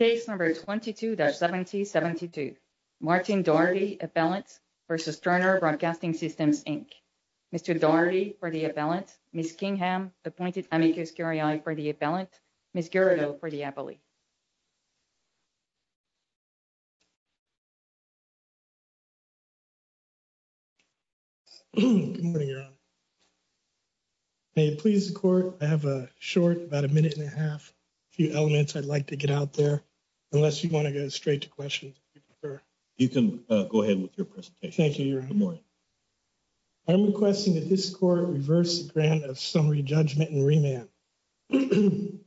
Case number 22-7072. Martin Doherty, appellant, versus Turner Broadcasting Systems, Inc. Mr. Doherty for the appellant, Ms. Kingham, appointed amicus curiae for the appellant, Ms. Guerrero for the appellate. Good morning, Your Honor. May it please the Court, I have a short, about a minute and a half, a few elements I'd like to get out there, unless you want to go straight to questions, if you prefer. You can go ahead with your presentation. Thank you, Your Honor. I'm requesting that this Court reverse the grant of summary judgment and remand. The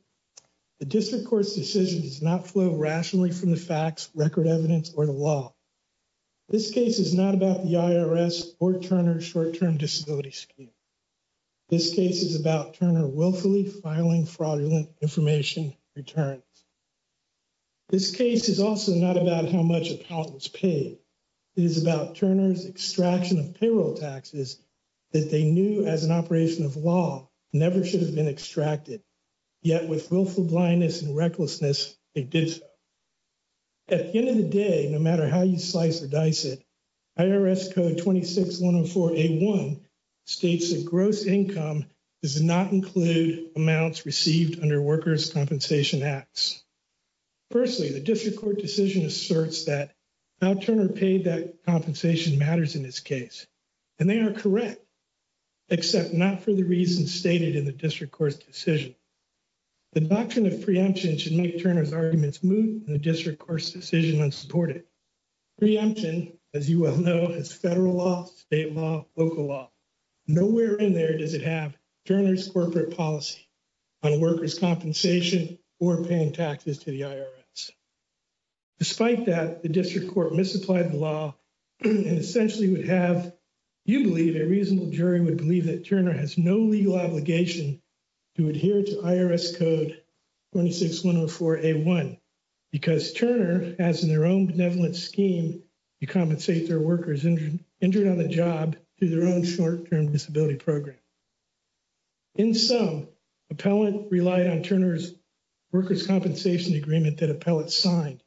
District Court's decision does not flow rationally from the facts, record evidence, or the law. This case is not about the IRS or Turner's short-term disability scheme. This case is about Turner willfully filing fraudulent information returns. This case is also not about how much appellant was paid. It is about Turner's extraction of payroll taxes that they knew as an operation of law never should have been extracted, yet with willful blindness and recklessness, they did so. At the end of the day, no matter how you slice or dice it, IRS Code 26-104-A1 states that gross income does not include amounts received under workers' compensation acts. Firstly, the District Court decision asserts that how Turner paid that compensation matters in this case, and they are correct, except not for the reasons stated in the District Court's decision. The doctrine of preemption should make Turner's arguments moot and the District Court's decision unsupported. Preemption, as you well know, has federal law, state law, local law. Nowhere in there does it have Turner's corporate policy on workers' compensation or paying taxes to the IRS. Despite that, the District Court misapplied the law and essentially would have, you believe, a reasonable jury would believe that Turner has no legal obligation to adhere to IRS Code 26-104-A1 because Turner has in their own benevolent scheme to compensate their workers injured on the job through their own short-term disability program. In sum, Appellant relied on Turner's workers' compensation agreement that Appellant signed.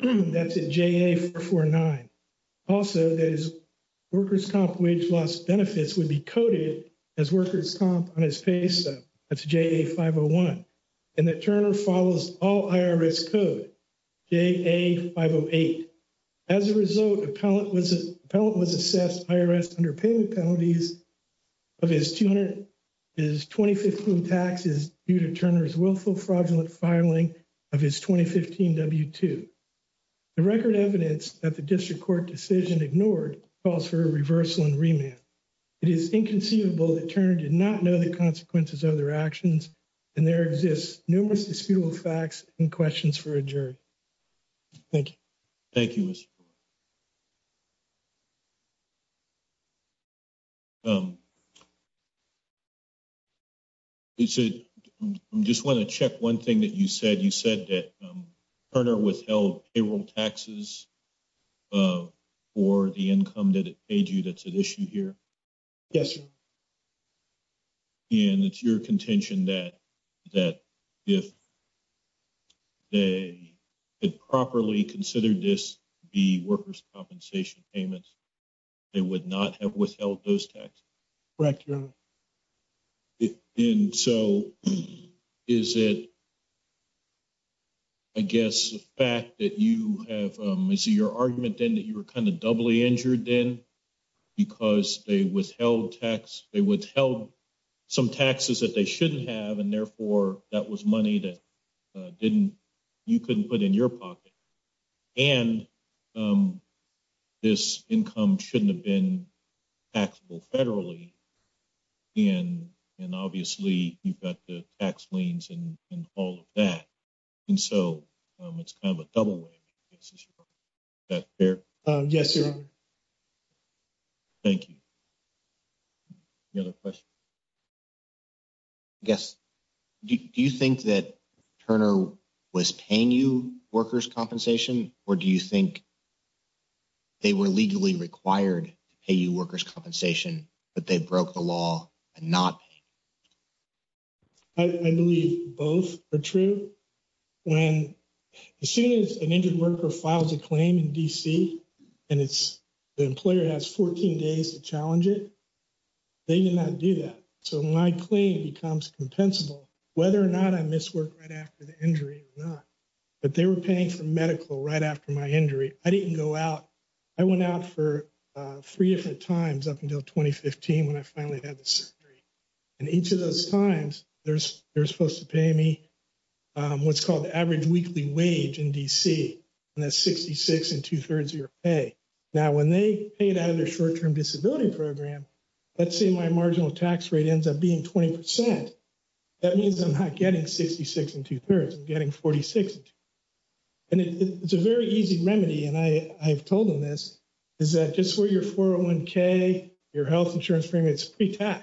That's at JA-449. Also, that his workers' comp wage loss benefits would be coded as workers' comp on his pay stub. That's JA-501. And that Turner follows all IRS Code, JA-508. As a result, Appellant was assessed IRS underpayment penalties of his 2015 taxes due to Turner's willful fraudulent filing of his 2015 W-2. The record evidence that the District Court decision ignored calls for a reversal and remand. It is inconceivable that Turner did not know the consequences of their actions, and there exists numerous disputable facts and questions for a jury. Thank you. Thank you, Mr. Brewer. You said, I just want to check one thing that you said. You said that Turner withheld payroll taxes for the income that it paid you that's at issue here. Yes, sir. And it's your contention that if they had properly considered this the workers' compensation payments, they would not have withheld those taxes? Correct, Your Honor. And so, is it, I guess, the fact that you have, is it your argument then that you were kind of doubly injured then because they withheld some taxes that they shouldn't have, and therefore, that was money that didn't, you couldn't put in your pocket, and this income shouldn't have been taxable federally, and obviously, you've got the tax liens and all of that. And so, it's kind of a double whammy, I guess is your point. Is that fair? Yes, Your Honor. Thank you. Any other questions? I guess, do you think that Turner was paying you workers' compensation, or do you think they were legally required to pay you workers' compensation, but they broke the law and not paid? I believe both are true. When, as soon as an injured worker files a claim in D.C., and the employer has 14 days to challenge it, they did not do that. So, my claim becomes compensable, whether or not I miss work right after the injury or not, but they were paying for medical right after my injury. I didn't go out. I went out for three different times up until 2015, when I finally had the surgery, and each of those times, they're supposed to pay me what's called the average weekly wage in D.C., and that's 66 and 2 3rds of your pay. Now, when they paid out of their short-term disability program, let's say my marginal tax rate ends up being 20%. That means I'm not getting 66 and 2 3rds, I'm getting 46 and 2 3rds. And it's a very easy remedy, and I've told them this, is that just for your 401k, your health insurance premium, it's pre-tax.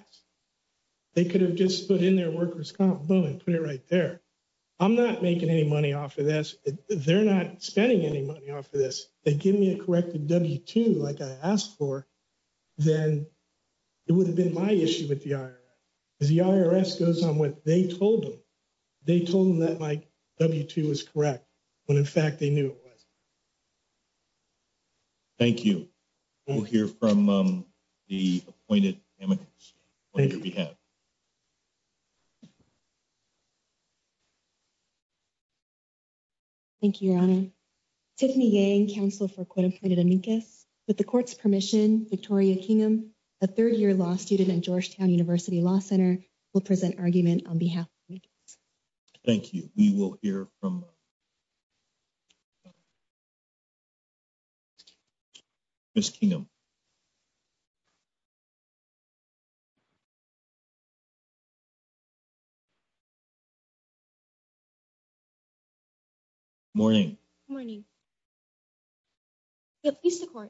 They could have just put in their workers' comp, boom, and put it right there. I'm not making any money off of this. They're not spending any money off of this. They give me a corrected W-2, like I asked for, then it would have been my issue with the IRS, because the IRS goes on what they told them. They told them that my W-2 was correct, when in fact, they knew it wasn't. Thank you. We'll hear from the appointed amicus on your behalf. Thank you, Your Honor. Tiffany Yang, Counsel for Quota Appointed Amicus. With the court's permission, Victoria Kingham, a third-year law student at Georgetown University Law Center, will present argument on behalf of amicus. Thank you. We will hear from Ms. Kingham. Ms. Kingham. Morning. Morning. You'll please the court.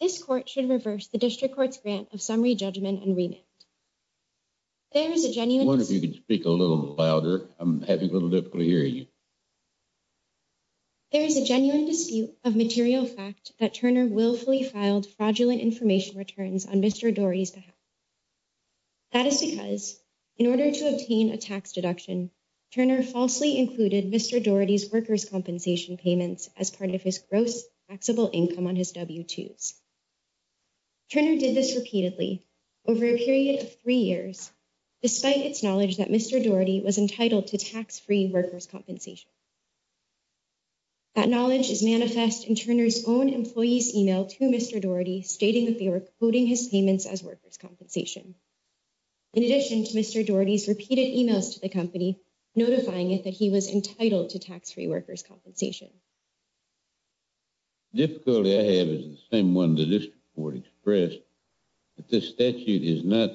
This court should reverse the district court's grant of summary judgment and remand. There is a genuine- I wonder if you could speak a little louder. I'm having a little difficulty hearing you. There is a genuine dispute of material fact that Turner willfully filed fraudulent information returns on Mr. Daugherty's behalf. That is because, in order to obtain a tax deduction, Turner falsely included Mr. Daugherty's workers' compensation payments as part of his gross taxable income on his W-2s. Turner did this repeatedly over a period of three years, despite its knowledge that Mr. Daugherty was entitled to tax-free workers' compensation. That knowledge is manifest in Turner's own employee's email to Mr. Daugherty, stating that they were quoting his payments as workers' compensation. In addition to Mr. Daugherty's repeated emails to the company, notifying it that he was entitled to tax-free workers' compensation. The difficulty I have is the same one the district court expressed, that this statute is not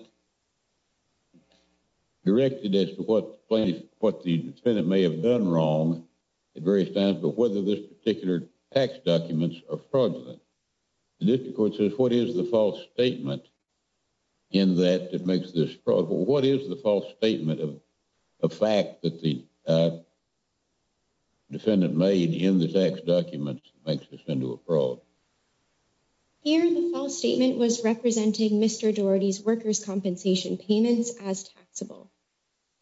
directed as to what the defendant may have done wrong, at various times, but whether this particular tax documents are fraudulent. The district court says, what is the false statement in that it makes this fraud? What is the false statement of a fact that the defendant made in the tax documents makes this into a fraud? Here, the false statement was representing Mr. Daugherty's workers' compensation payments as taxable.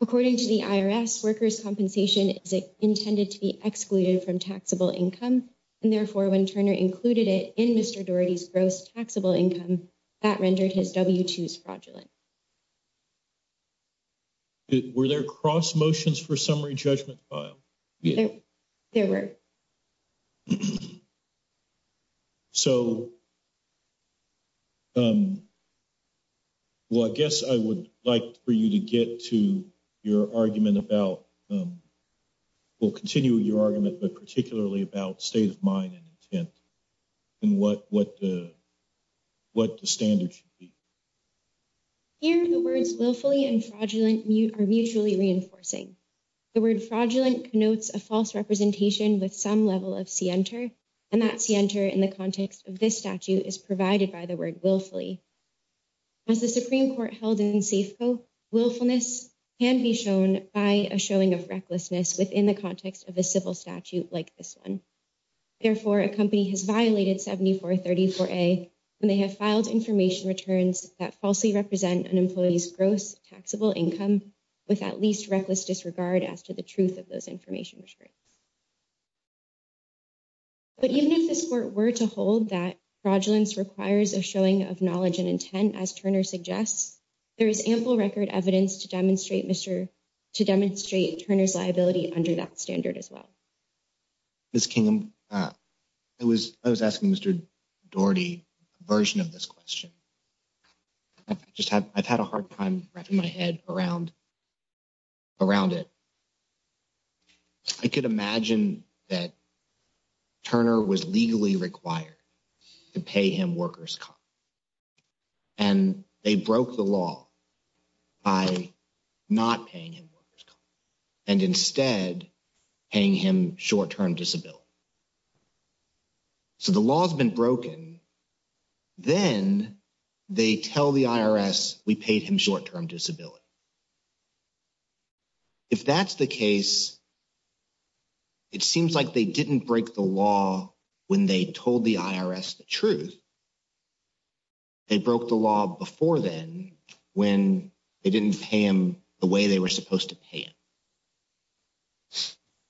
According to the IRS, tax workers' compensation is intended to be excluded from taxable income, and therefore when Turner included it in Mr. Daugherty's gross taxable income, that rendered his W-2s fraudulent. Were there cross motions for summary judgment file? There were. So, well, I guess I would like for you to get to your argument about, we'll continue your argument, but particularly about state of mind and intent, and what the standard should be. Here, the words willfully and fraudulent are mutually reinforcing. The word fraudulent connotes a false representation with some level of scienter, and that scienter in the context of this statute is provided by the word willfully. As the Supreme Court held in Safeco, willfulness can be shown by a showing of recklessness within the context of a civil statute like this one. Therefore, a company has violated 7434A, and they have filed information returns that falsely represent an employee's gross taxable income with at least reckless disregard as to the truth of those information. But even if this court were to hold that fraudulence requires a showing of knowledge and intent, and as Turner suggests, there is ample record evidence to demonstrate Turner's liability under that standard as well. Ms. Kingham, I was asking Mr. Daugherty a version of this question. I've had a hard time wrapping my head around it. I could imagine that Turner was legally required to pay him worker's comp. And they broke the law by not paying him worker's comp, and instead paying him short-term disability. So the law has been broken, then they tell the IRS we paid him short-term disability. If that's the case, it seems like they didn't break the law when they told the IRS the truth. They broke the law before then when they didn't pay him the way they were supposed to pay him.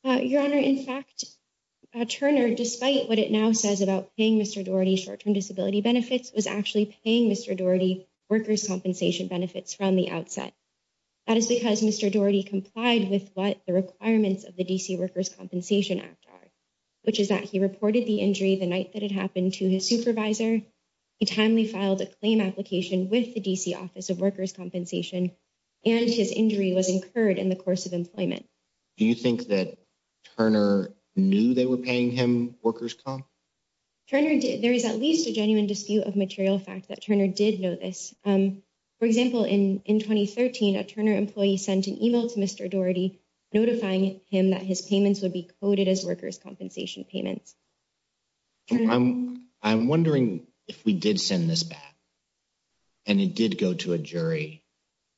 Your Honor, in fact, Turner, despite what it now says about paying Mr. Daugherty short-term disability benefits was actually paying Mr. Daugherty worker's compensation benefits from the outset. That is because Mr. Daugherty complied with what the requirements of the DC Workers' Compensation Act are, which is that he reported the injury the night that it happened to his supervisor. He timely filed a claim application with the DC Office of Workers' Compensation, and his injury was incurred in the course of employment. Do you think that Turner knew they were paying him worker's comp? Turner did. There is at least a genuine dispute of material fact that Turner did know this. For example, in 2013, a Turner employee sent an email to Mr. Daugherty, notifying him that his payments would be coded as workers' compensation payments. I'm wondering if we did send this back and it did go to a jury,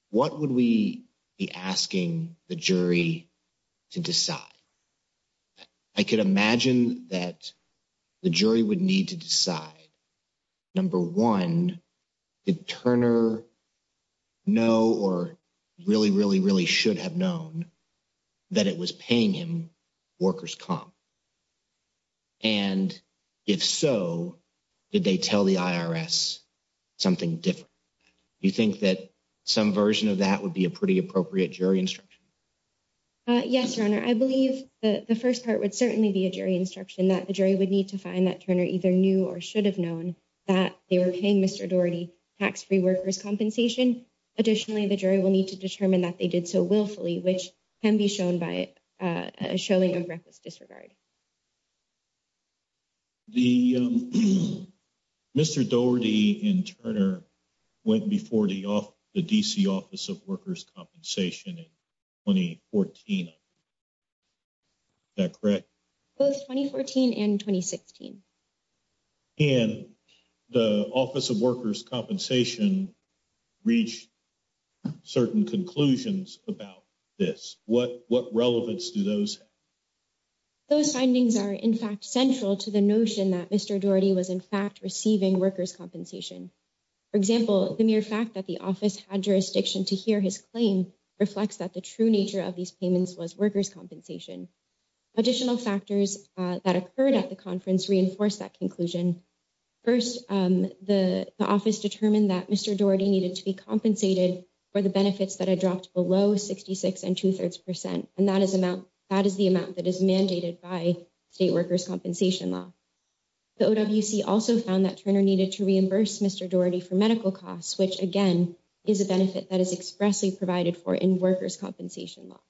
what would we be asking the jury to decide? I could imagine that the jury would need to decide, number one, did Turner know or really, really, really should have known that it was paying him worker's comp? And if so, did they tell the IRS something different? Do you think that some version of that would be a pretty appropriate jury instruction? Yes, Your Honor, I believe that the first part would certainly be a jury instruction that the jury would need to find that Turner either knew or should have known that they were paying Mr. Daugherty tax-free worker's compensation. Additionally, the jury will need to determine that they did so willfully, which can be shown by a showing of reckless disregard. Your Honor, Mr. Daugherty and Turner went before the DC Office of Workers' Compensation in 2014. Is that correct? Both 2014 and 2016. And the Office of Workers' Compensation reached certain conclusions about this. What relevance do those have? Those findings are in fact central to the notion that Mr. Daugherty was in fact receiving worker's compensation. For example, the mere fact that the office had jurisdiction to hear his claim reflects that the true nature of these payments was worker's compensation. Additional factors that occurred at the conference reinforced that conclusion. First, the office determined that Mr. Daugherty needed to be compensated for the benefits that had dropped below 66 and 2 3rds percent. And that is the amount that is mandated by state worker's compensation law. The OWC also found that Turner needed to reimburse Mr. Daugherty for medical costs, which again is a benefit that is expressly provided for in worker's compensation law.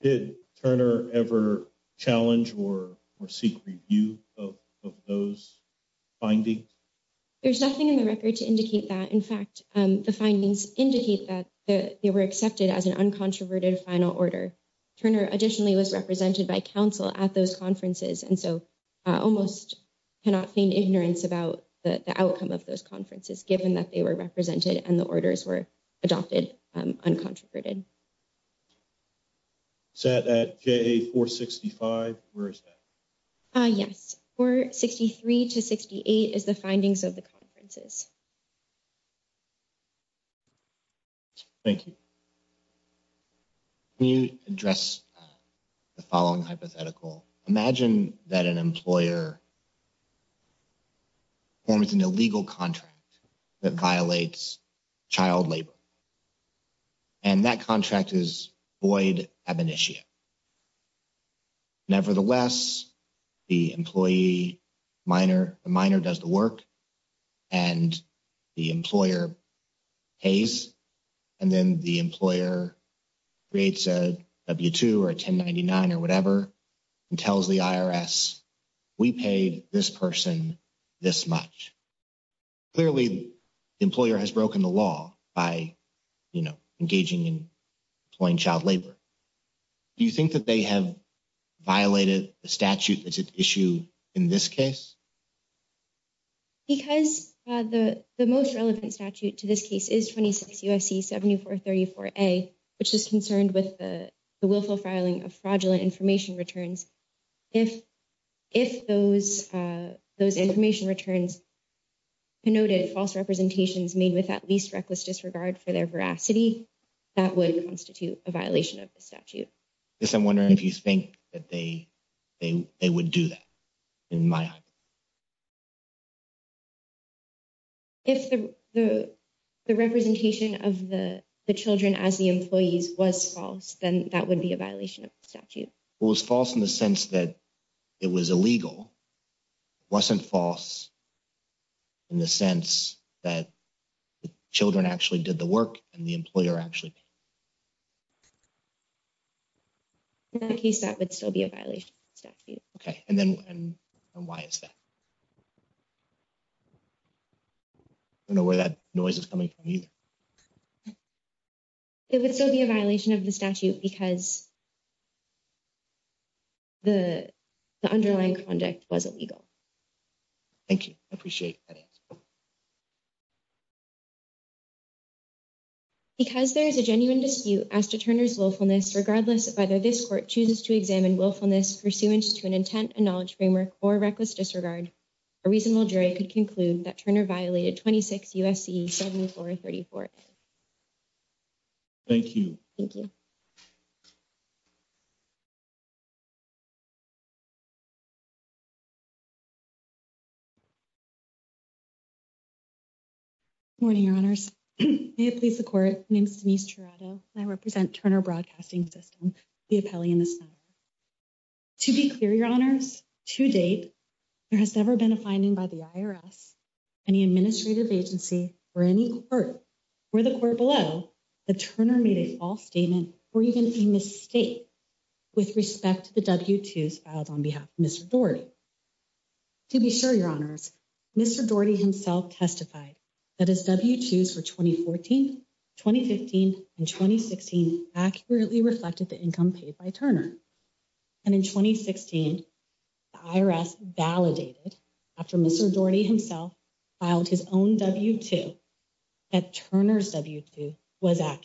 Did Turner ever challenge or seek review of those findings? There's nothing in the record to indicate that. In fact, the findings indicate that they were accepted as an uncontroverted final order. Turner additionally was represented by council at those conferences. And so I almost cannot feign ignorance about the outcome of those conferences, given that they were represented and the orders were adopted uncontroverted. Set at J465, where is that? Yes, 463 to 68 is the findings of the conferences. Thank you. Can you address the following hypothetical? Imagine that an employer forms an illegal contract that violates child labor. And that contract is void ab initio. Nevertheless, the employee, the minor does the work and the employer pays. And then the employer creates a W-2 or a 1099 or whatever and tells the IRS, we paid this person this much. Clearly the employer has broken the law by engaging in employing child labor. Do you think that they have violated the statute that's at issue in this case? Because the most relevant statute to this case is 26 U.S.C. 7434-A, which is concerned with the willful filing of fraudulent information returns. If those information returns denoted false representations made with at least reckless disregard for their veracity, that would constitute a violation of the statute. Yes, I'm wondering if you think that they would do that in my eyes. If the representation of the children as the employees was false, then that would be a violation of the statute. Well, it was false in the sense that it was illegal, wasn't false in the sense that the children actually did the work and the employer actually paid. Okay, and then why is that? I don't know where that noise is coming from either. It would still be a violation of the statute because the underlying conduct was illegal. Thank you, I appreciate that answer. Because there is a genuine dispute as to Turner's willfulness, regardless of whether this court chooses to examine willfulness pursuant to an intent and knowledge framework or reckless disregard, a reasonable jury could conclude that Turner violated 26 U.S.C. 7434-A. Thank you. Thank you. Good morning, your honors. May it please the court, my name is Denise Tirado and I represent Turner Broadcasting System, the appellee in this matter. To be clear, your honors, to date, there has never been a finding by the IRS, any administrative agency or any court or the court below that Turner made a false statement or even a mistake with respect to the W-2s filed on behalf of Mr. Daugherty. To be sure, your honors, Mr. Daugherty himself testified that his W-2s for 2014, 2015 and 2016 accurately reflected the income paid by Turner. And in 2016, the IRS validated after Mr. Daugherty himself filed his own W-2 that Turner's W-2 was accurate.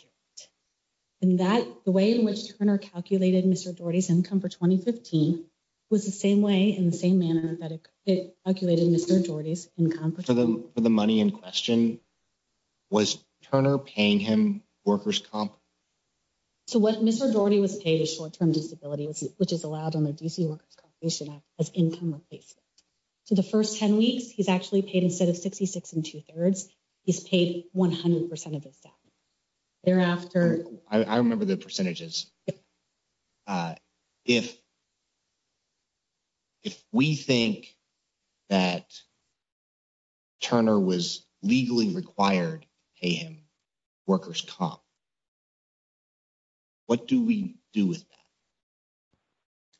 And that the way in which Turner calculated Mr. Daugherty's income for 2015 was the same way in the same manner that it calculated Mr. Daugherty's income for 2015. For the money in question, was Turner paying him workers' comp? So what Mr. Daugherty was paid is short-term disability, which is allowed on the DC Workers' Compensation Act as income replacement. So the first 10 weeks, he's actually paid instead of 66 2 3rds, he's paid 100% of his staff. Thereafter- I remember the percentages. If we think that Turner was legally qualified and required to pay him workers' comp, what do we do with that?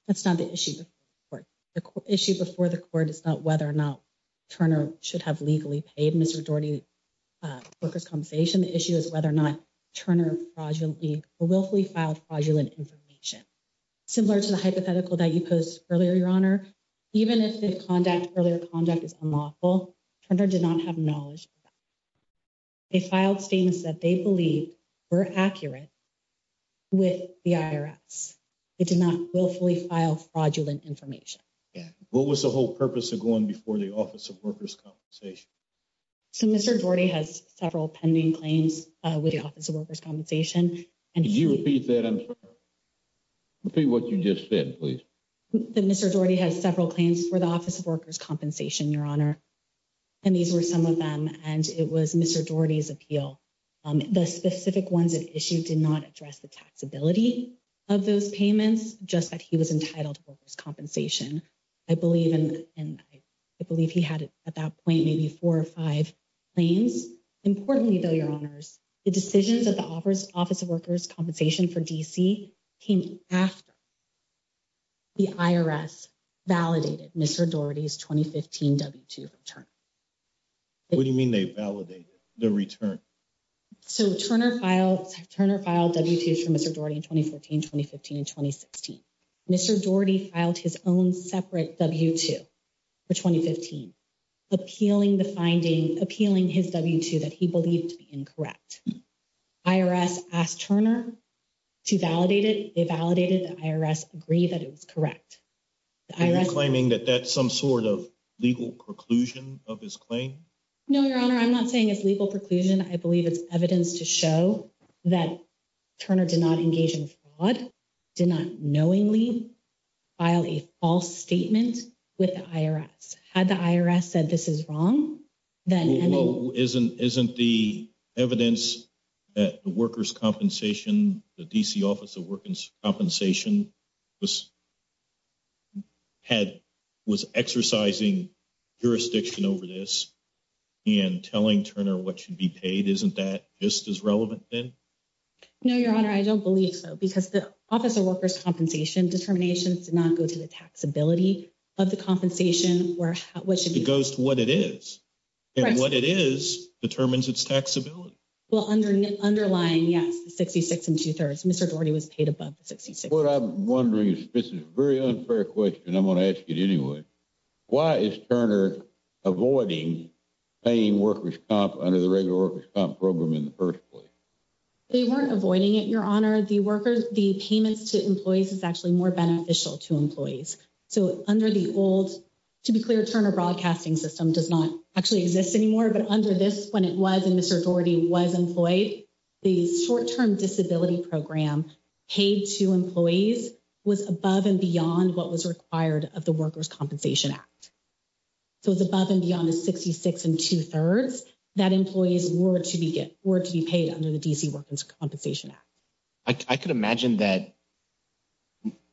That's not the issue before the court. The issue before the court is not whether or not Turner should have legally paid Mr. Daugherty workers' compensation. The issue is whether or not Turner willfully filed fraudulent information. Similar to the hypothetical that you posed earlier, Your Honor, even if the earlier conduct is unlawful, Turner did not have knowledge of that. They filed statements that they believed were accurate with the IRS. They did not willfully file fraudulent information. What was the whole purpose of going before the Office of Workers' Compensation? So Mr. Daugherty has several pending claims with the Office of Workers' Compensation. And- Could you repeat that? Repeat what you just said, please. That Mr. Daugherty has several claims for the Office of Workers' Compensation, Your Honor. And these were some of them, and it was Mr. Daugherty's appeal. The specific ones that issued did not address the taxability of those payments, just that he was entitled to workers' compensation. I believe he had, at that point, maybe four or five claims. Importantly, though, Your Honors, the decisions of the Office of Workers' Compensation for D.C. came after the IRS validated Mr. Daugherty's 2015 W-2 return. What do you mean they validated the return? So Turner filed W-2s for Mr. Daugherty in 2014, 2015, and 2016. Mr. Daugherty filed his own separate W-2 for 2015, appealing his W-2 that he believed to be incorrect. IRS asked Turner to validate it. They validated. The IRS agreed that it was correct. The IRS- Are you claiming that that's some sort of legal preclusion of his claim? No, Your Honor, I'm not saying it's legal preclusion. I believe it's evidence to show that Turner did not engage in fraud, did not knowingly file a false statement with the IRS. Had the IRS said this is wrong, then- Isn't the evidence that the Workers' Compensation, the D.C. Office of Workers' Compensation was exercising jurisdiction over this and telling Turner what should be paid, isn't that just as relevant then? No, Your Honor, I don't believe so because the Office of Workers' Compensation determination did not go to the taxability of the compensation or what should be- It goes to what it is. And what it is determines its taxability. Well, underlying, yes, the 66 and two-thirds. Mr. Daugherty was paid above the 66. What I'm wondering, this is a very unfair question. I'm going to ask it anyway. Why is Turner avoiding paying workers' comp under the regular workers' comp program in the first place? They weren't avoiding it, Your Honor. The workers, the payments to employees is actually more beneficial to employees. So under the old, to be clear, Turner Broadcasting System does not actually exist anymore, but under this, when it was and Mr. Daugherty was employed, the short-term disability program paid to employees was above and beyond what was required of the Workers' Compensation Act. So it was above and beyond the 66 and two-thirds that employees were to be paid under the D.C. Workers' Compensation Act. I could imagine that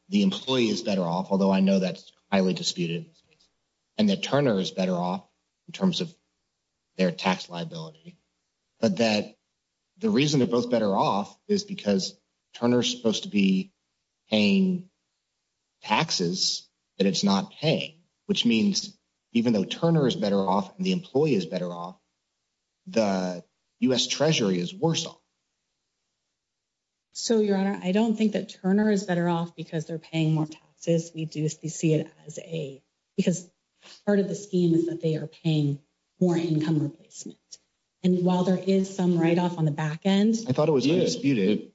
the employee is better off, although I know that's highly disputed, and that Turner is better off in terms of their tax liability, but that the reason they're both better off is because Turner's supposed to be paying taxes that it's not paying, which means even though Turner is better off and the employee is better off, the U.S. Treasury is worse off. So, Your Honor, I don't think that Turner is better off because they're paying more taxes. We do see it as a, because part of the scheme is that they are paying more income replacement, and while there is some write-off on the back end. I thought it was disputed.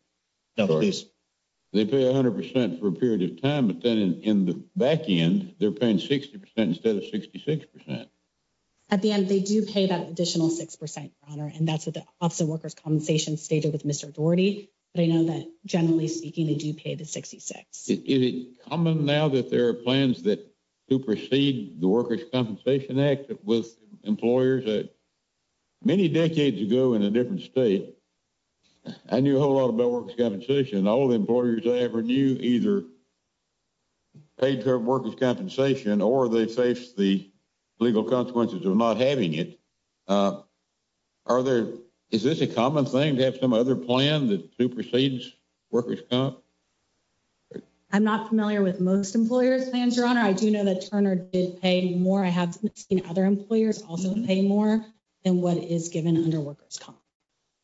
They pay 100% for a period of time, but then in the back end, they're paying 60% instead of 66%. At the end, they do pay that additional 6%, Your Honor, and that's what the Office of Workers' Compensation stated with Mr. Daugherty, but I know that, generally speaking, they do pay the 66. Is it common now that there are plans that supersede the Workers' Compensation Act with employers? Many decades ago in a different state, I knew a whole lot about workers' compensation. All the employers I ever knew either paid their workers' compensation or they faced the legal consequences of not having it. Are there, is this a common thing to have some other plan that supersedes workers' comp? I'm not familiar with most employers' plans, Your Honor. I do know that Turner did pay more. I have seen other employers also pay more than what is given under workers' comp,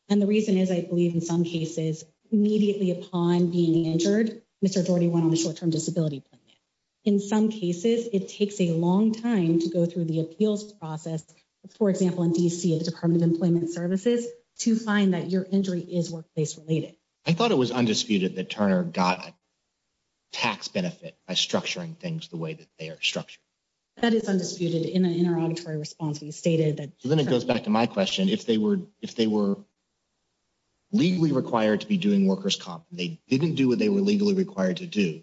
and the reason is, I believe, in some cases, immediately upon being injured, Mr. Daugherty went on a short-term disability plan. In some cases, it takes a long time to go through the appeals process, for example, in D.C. at the Department of Employment Services to find that your injury is workplace-related. I thought it was undisputed that Turner got tax benefit by structuring things the way that they are structured. That is undisputed. In our auditory response, we stated that- So then it goes back to my question. If they were legally required to be doing workers' comp, they didn't do what they were legally required to do,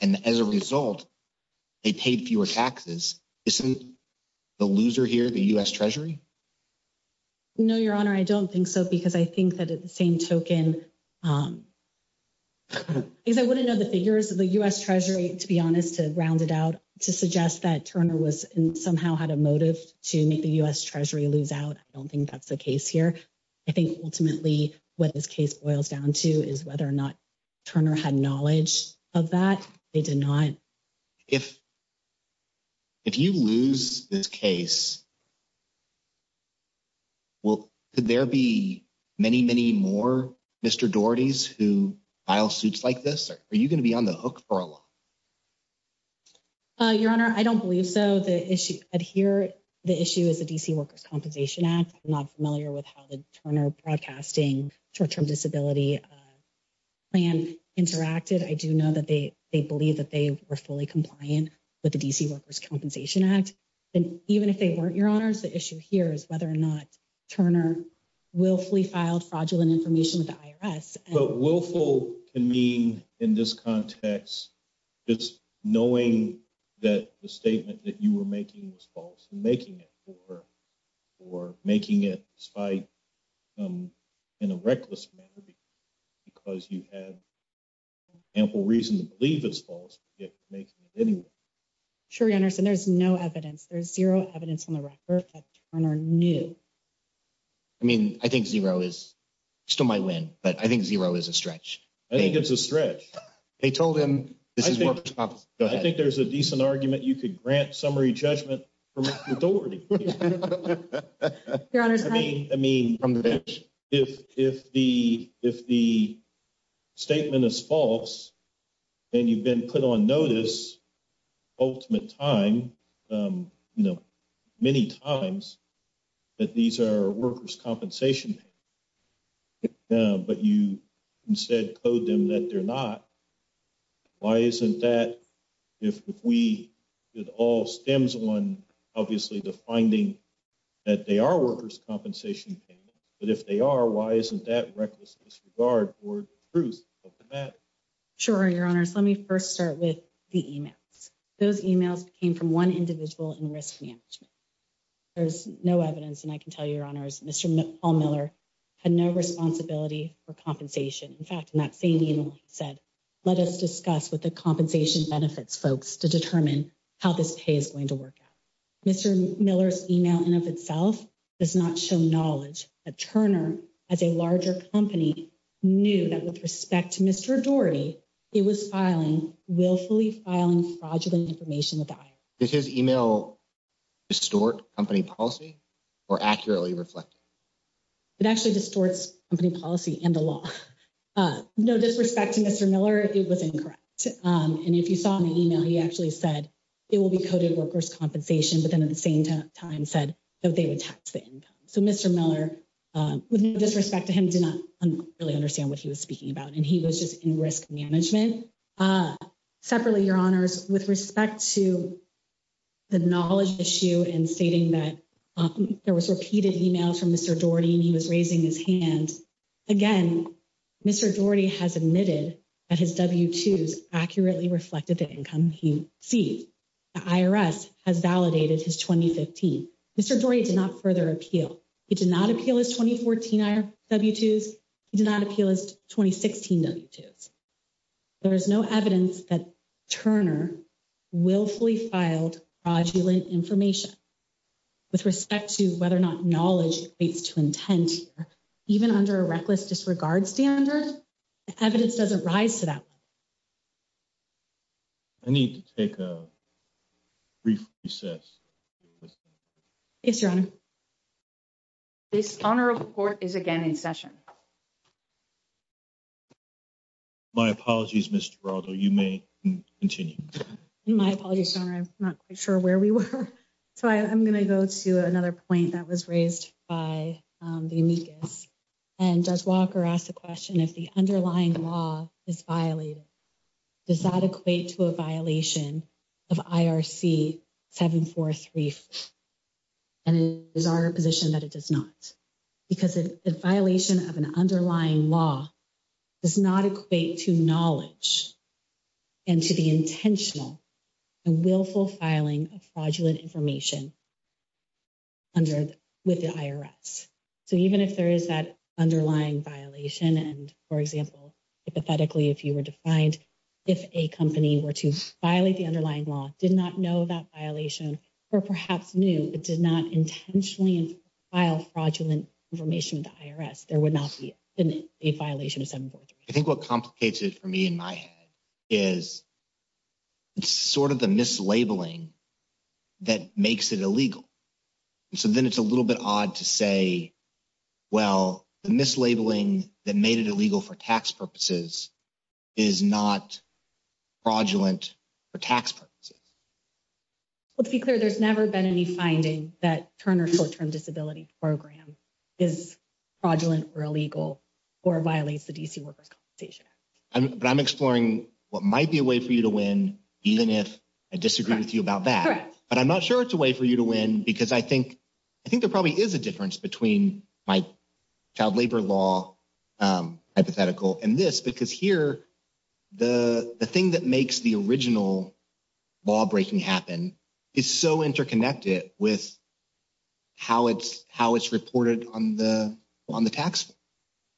and as a result, they paid fewer taxes, isn't the loser here the U.S. Treasury? No, Your Honor, I don't think so, because I think that at the same token, because I wouldn't know the figures of the U.S. Treasury, to be honest, to round it out, to suggest that Turner somehow had a motive to make the U.S. Treasury lose out, I don't think that's the case here. I think ultimately what this case boils down to is whether or not Turner had knowledge of that. They did not. If you lose this case, could there be many, many more Mr. Daugherty's who file suits like this? Are you gonna be on the hook for a while? Your Honor, I don't believe so. The issue at here, the issue is the DC Workers' Compensation Act. I'm not familiar with how the Turner Broadcasting Short-Term Disability Plan interacted. I do know that they believe that they were fully compliant with the DC Workers' Compensation Act, and even if they weren't, Your Honors, the issue here is whether or not Turner willfully filed fraudulent information with the IRS. But willful can mean, in this context, just knowing that the statement that you were making was false, and making it for her, or making it despite, in a reckless manner, because you had ample reason to believe it's false, but yet you're making it anyway. Sure, Your Honor, so there's no evidence. There's zero evidence on the record that Turner knew. I mean, I think zero is, still might win, but I think zero is a stretch. I think it's a stretch. They told him, this is workers' compensation. Go ahead. I think there's a decent argument you could grant summary judgment from Daugherty. Your Honor, I mean, if the statement is false, and you've been put on notice, ultimate time, you know, many times, that these are workers' compensation payments, but you instead code them that they're not, why isn't that, if we, it all stems on, obviously, the finding that they are workers' compensation payments, but if they are, why isn't that reckless disregard for the truth of the matter? Sure, Your Honors. Let me first start with the emails. Those emails came from one individual in risk management. There's no evidence, and I can tell you, Your Honors, Mr. Paul Miller had no responsibility for compensation. In fact, in that same email, he said, let us discuss what the compensation benefits, folks, to determine how this pay is going to work out. Mr. Miller's email in of itself does not show knowledge that Turner, as a larger company, knew that with respect to Mr. Daugherty, it was filing, willfully filing fraudulent information with the IRS. Did his email distort company policy or accurately reflect it? It actually distorts company policy and the law. No disrespect to Mr. Miller, it was incorrect, and if you saw in the email, he actually said, it will be coded workers' compensation, but then at the same time said that they would tax the income. So Mr. Miller, with no disrespect to him, did not really understand what he was speaking about, and he was just in risk management. Separately, Your Honors, with respect to the knowledge issue and stating that there was repeated emails from Mr. Daugherty and he was raising his hand, again, Mr. Daugherty has admitted that his W-2s accurately reflected the income he received. The IRS has validated his 2015. Mr. Daugherty did not further appeal. He did not appeal his 2014 W-2s. He did not appeal his 2016 W-2s. There is no evidence that Turner willfully filed fraudulent information. With respect to whether or not knowledge equates to intent, even under a reckless disregard standard, the evidence doesn't rise to that. I need to take a brief recess. Yes, Your Honor. Your Honor, this Honorable Court is again in session. My apologies, Ms. Giraldo, you may continue. My apologies, Your Honor, I'm not quite sure where we were. So I'm gonna go to another point that was raised by the amicus. And Judge Walker asked the question, if the underlying law is violated, does that equate to a violation of IRC 743? And I'm gonna take a brief, and it is our position that it does not. Because a violation of an underlying law does not equate to knowledge and to the intentional and willful filing of fraudulent information with the IRS. So even if there is that underlying violation, and for example, hypothetically, if you were to find if a company were to violate the underlying law, did not know that violation, or perhaps knew, but did not intentionally file fraudulent information with the IRS, there would not be a violation of 743. I think what complicates it for me in my head is it's sort of the mislabeling that makes it illegal. So then it's a little bit odd to say, well, the mislabeling that made it illegal for tax purposes is not fraudulent for tax purposes. Let's be clear, there's never been any finding that Turner short-term disability program is fraudulent or illegal, or violates the DC workers compensation. But I'm exploring what might be a way for you to win, even if I disagree with you about that. But I'm not sure it's a way for you to win because I think there probably is a difference between my child labor law hypothetical and this, because here, the thing that makes the original law breaking happen is so interconnected with how it's reported on the tax.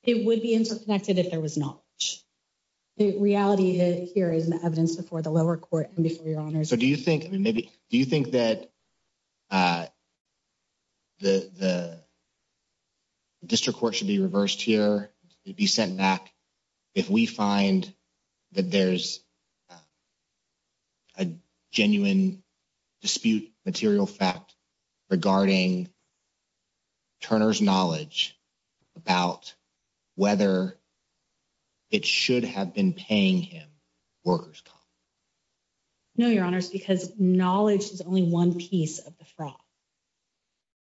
It would be interconnected if there was not. The reality here is the evidence before the lower court and before your honors. So do you think, I mean, maybe, do you think that the district court should be reversed here? To be sent back if we find that there's a genuine dispute material fact regarding Turner's knowledge about whether it should have been paying him workers' comp? No, your honors, because knowledge is only one piece of the fraud,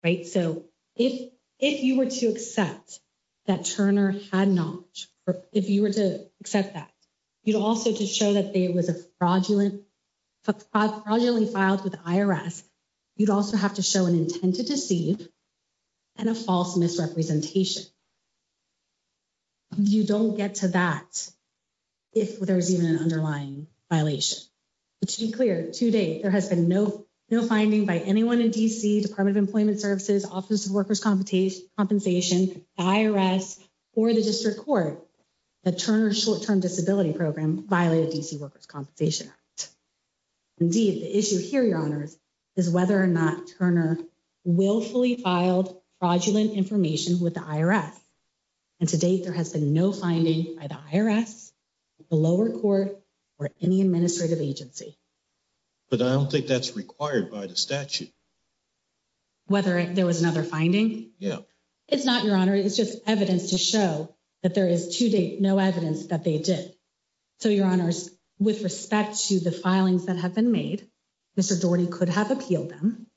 right? So if you were to accept that Turner had knowledge, if you were to accept that, you'd also to show that there was a fraudulently filed with the IRS, you'd also have to show an intent to deceive and a false misrepresentation. You don't get to that if there's even an underlying violation. But to be clear, to date, there has been no finding by anyone in DC, Department of Employment Services, Office of Workers' Compensation, IRS, or the district court that Turner's short-term disability program violated DC Workers' Compensation Act. Indeed, the issue here, your honors, is whether or not Turner willfully filed fraudulent information with the IRS. And to date, there has been no finding by the IRS, the lower court, or any administrative agency. But I don't think that's required by the statute. Whether there was another finding? Yeah. It's not, your honor, it's just evidence to show that there is to date no evidence that they did. So your honors, with respect to the filings that have been made, Mr. Daugherty could have appealed them.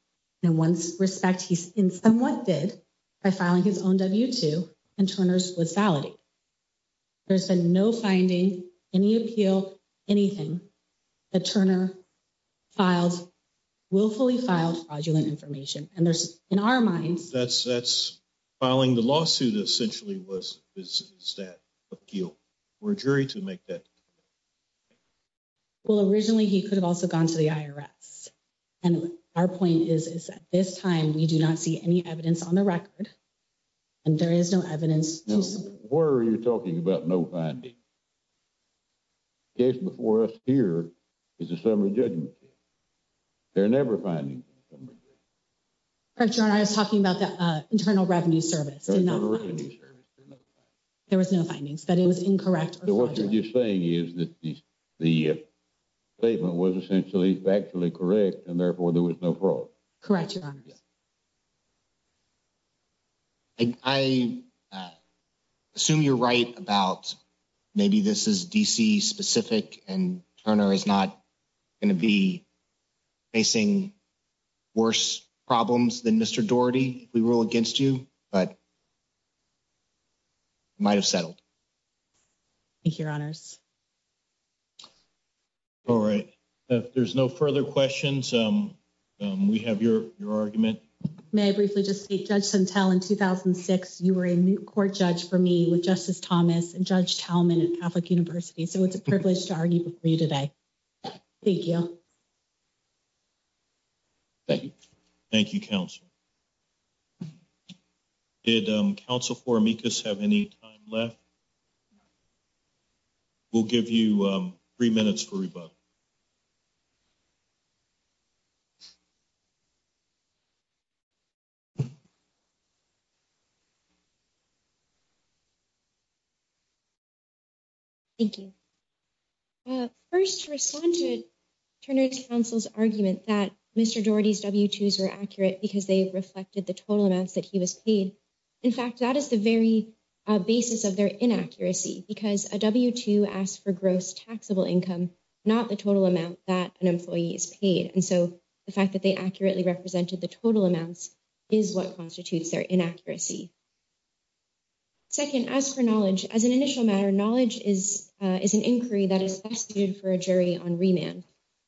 In one's respect, he's in somewhat did by filing his own W-2 and Turner's was valid. There's been no finding, any appeal, anything that Turner filed, willfully filed fraudulent information. And there's, in our minds- That's filing the lawsuit essentially was, is that appeal for a jury to make that? Well, originally he could have also gone to the IRS. And our point is, is that this time we do not see any evidence on the record, and there is no evidence- Where are you talking about no finding? The case before us here is a summary judgment case. There are never findings in a summary judgment case. Correct, your honor, I was talking about the Internal Revenue Service. Internal Revenue Service, there's no findings. There was no findings, but it was incorrect or fraudulent. What you're just saying is that the statement was essentially factually correct, and therefore there was no fraud. Correct, your honors. I assume you're right about maybe this is DC specific, and Turner is not gonna be facing worse problems than Mr. Daugherty, if we rule against you, but it might've settled. Thank you, your honors. All right, if there's no further questions, we have your argument. May I briefly just state, Judge Suntell, in 2006, you were a moot court judge for me with Justice Thomas and Judge Talman at Catholic University. So it's a privilege to argue before you today. Thank you. Thank you. Thank you, counsel. Did counsel for amicus have any time left? We'll give you three minutes for rebuttal. Thank you. First, to respond to Turner's counsel's argument that Mr. Daugherty's W-2s were accurate because they reflected the total amounts that he was paid. In fact, that is the very basis of their inaccuracy because a W-2 asks for gross taxable income, not the total amount that an employee is paid. And so the fact that they accurately represented the total amounts is what constitutes their inaccuracy. Second, as a judge, as for knowledge, as an initial matter, knowledge is an inquiry that is best suited for a jury on remand.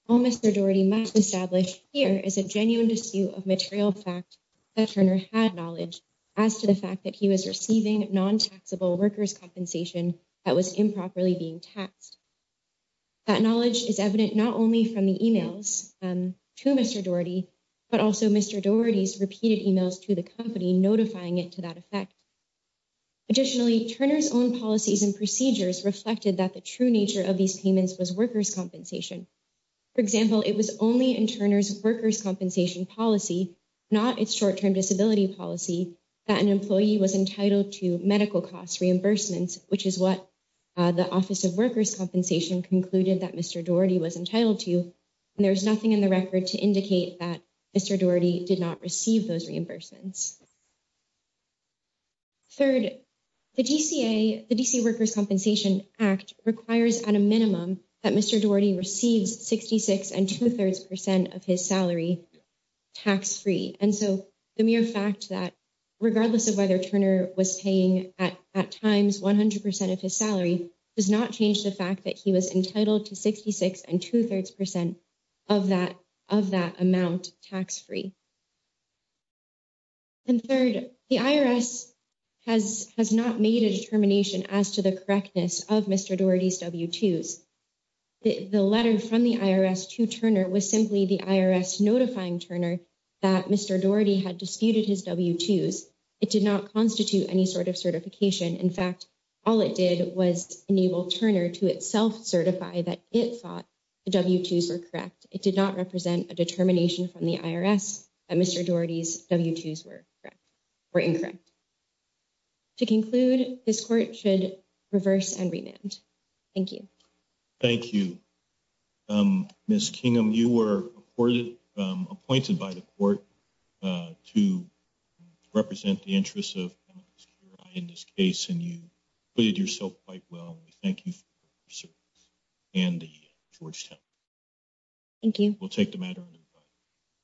All Mr. Daugherty must establish here is a genuine dispute of material fact that Turner had knowledge as to the fact that he was receiving non-taxable workers' compensation that was improperly being taxed. That knowledge is evident not only from the emails to Mr. Daugherty, but also Mr. Daugherty's repeated emails to the company, notifying it to that effect. Additionally, Turner's own policies and procedures reflected that the true nature of these payments was workers' compensation. For example, it was only in Turner's workers' compensation policy, not its short-term disability policy, that an employee was entitled to medical costs reimbursements, which is what the Office of Workers' Compensation concluded that Mr. Daugherty was entitled to. And there's nothing in the record to indicate that Mr. Daugherty did not receive those reimbursements. Third, the DCA, the DC Workers' Compensation Act requires at a minimum that Mr. Daugherty receives 66 and 2 3rds percent of his salary tax-free. And so the mere fact that, regardless of whether Turner was paying at times 100% of his salary, does not change the fact that he was entitled to 66 and 2 3rds percent of that amount tax-free. And third, the IRS has not made a determination as to the correctness of Mr. Daugherty's W-2s. The letter from the IRS to Turner was simply the IRS notifying Turner that Mr. Daugherty had disputed his W-2s. It did not constitute any sort of certification. In fact, all it did was enable Turner to itself certify that it thought the W-2s were correct. It did not represent a determination from the IRS. And Mr. Daugherty's W-2s were incorrect. To conclude, this court should reverse and remand. Thank you. Thank you. Ms. Kingham, you were appointed by the court to represent the interests of MSQRI in this case, and you did yourself quite well. We thank you for your service and the Georgetown. Thank you. We'll take the matter under review.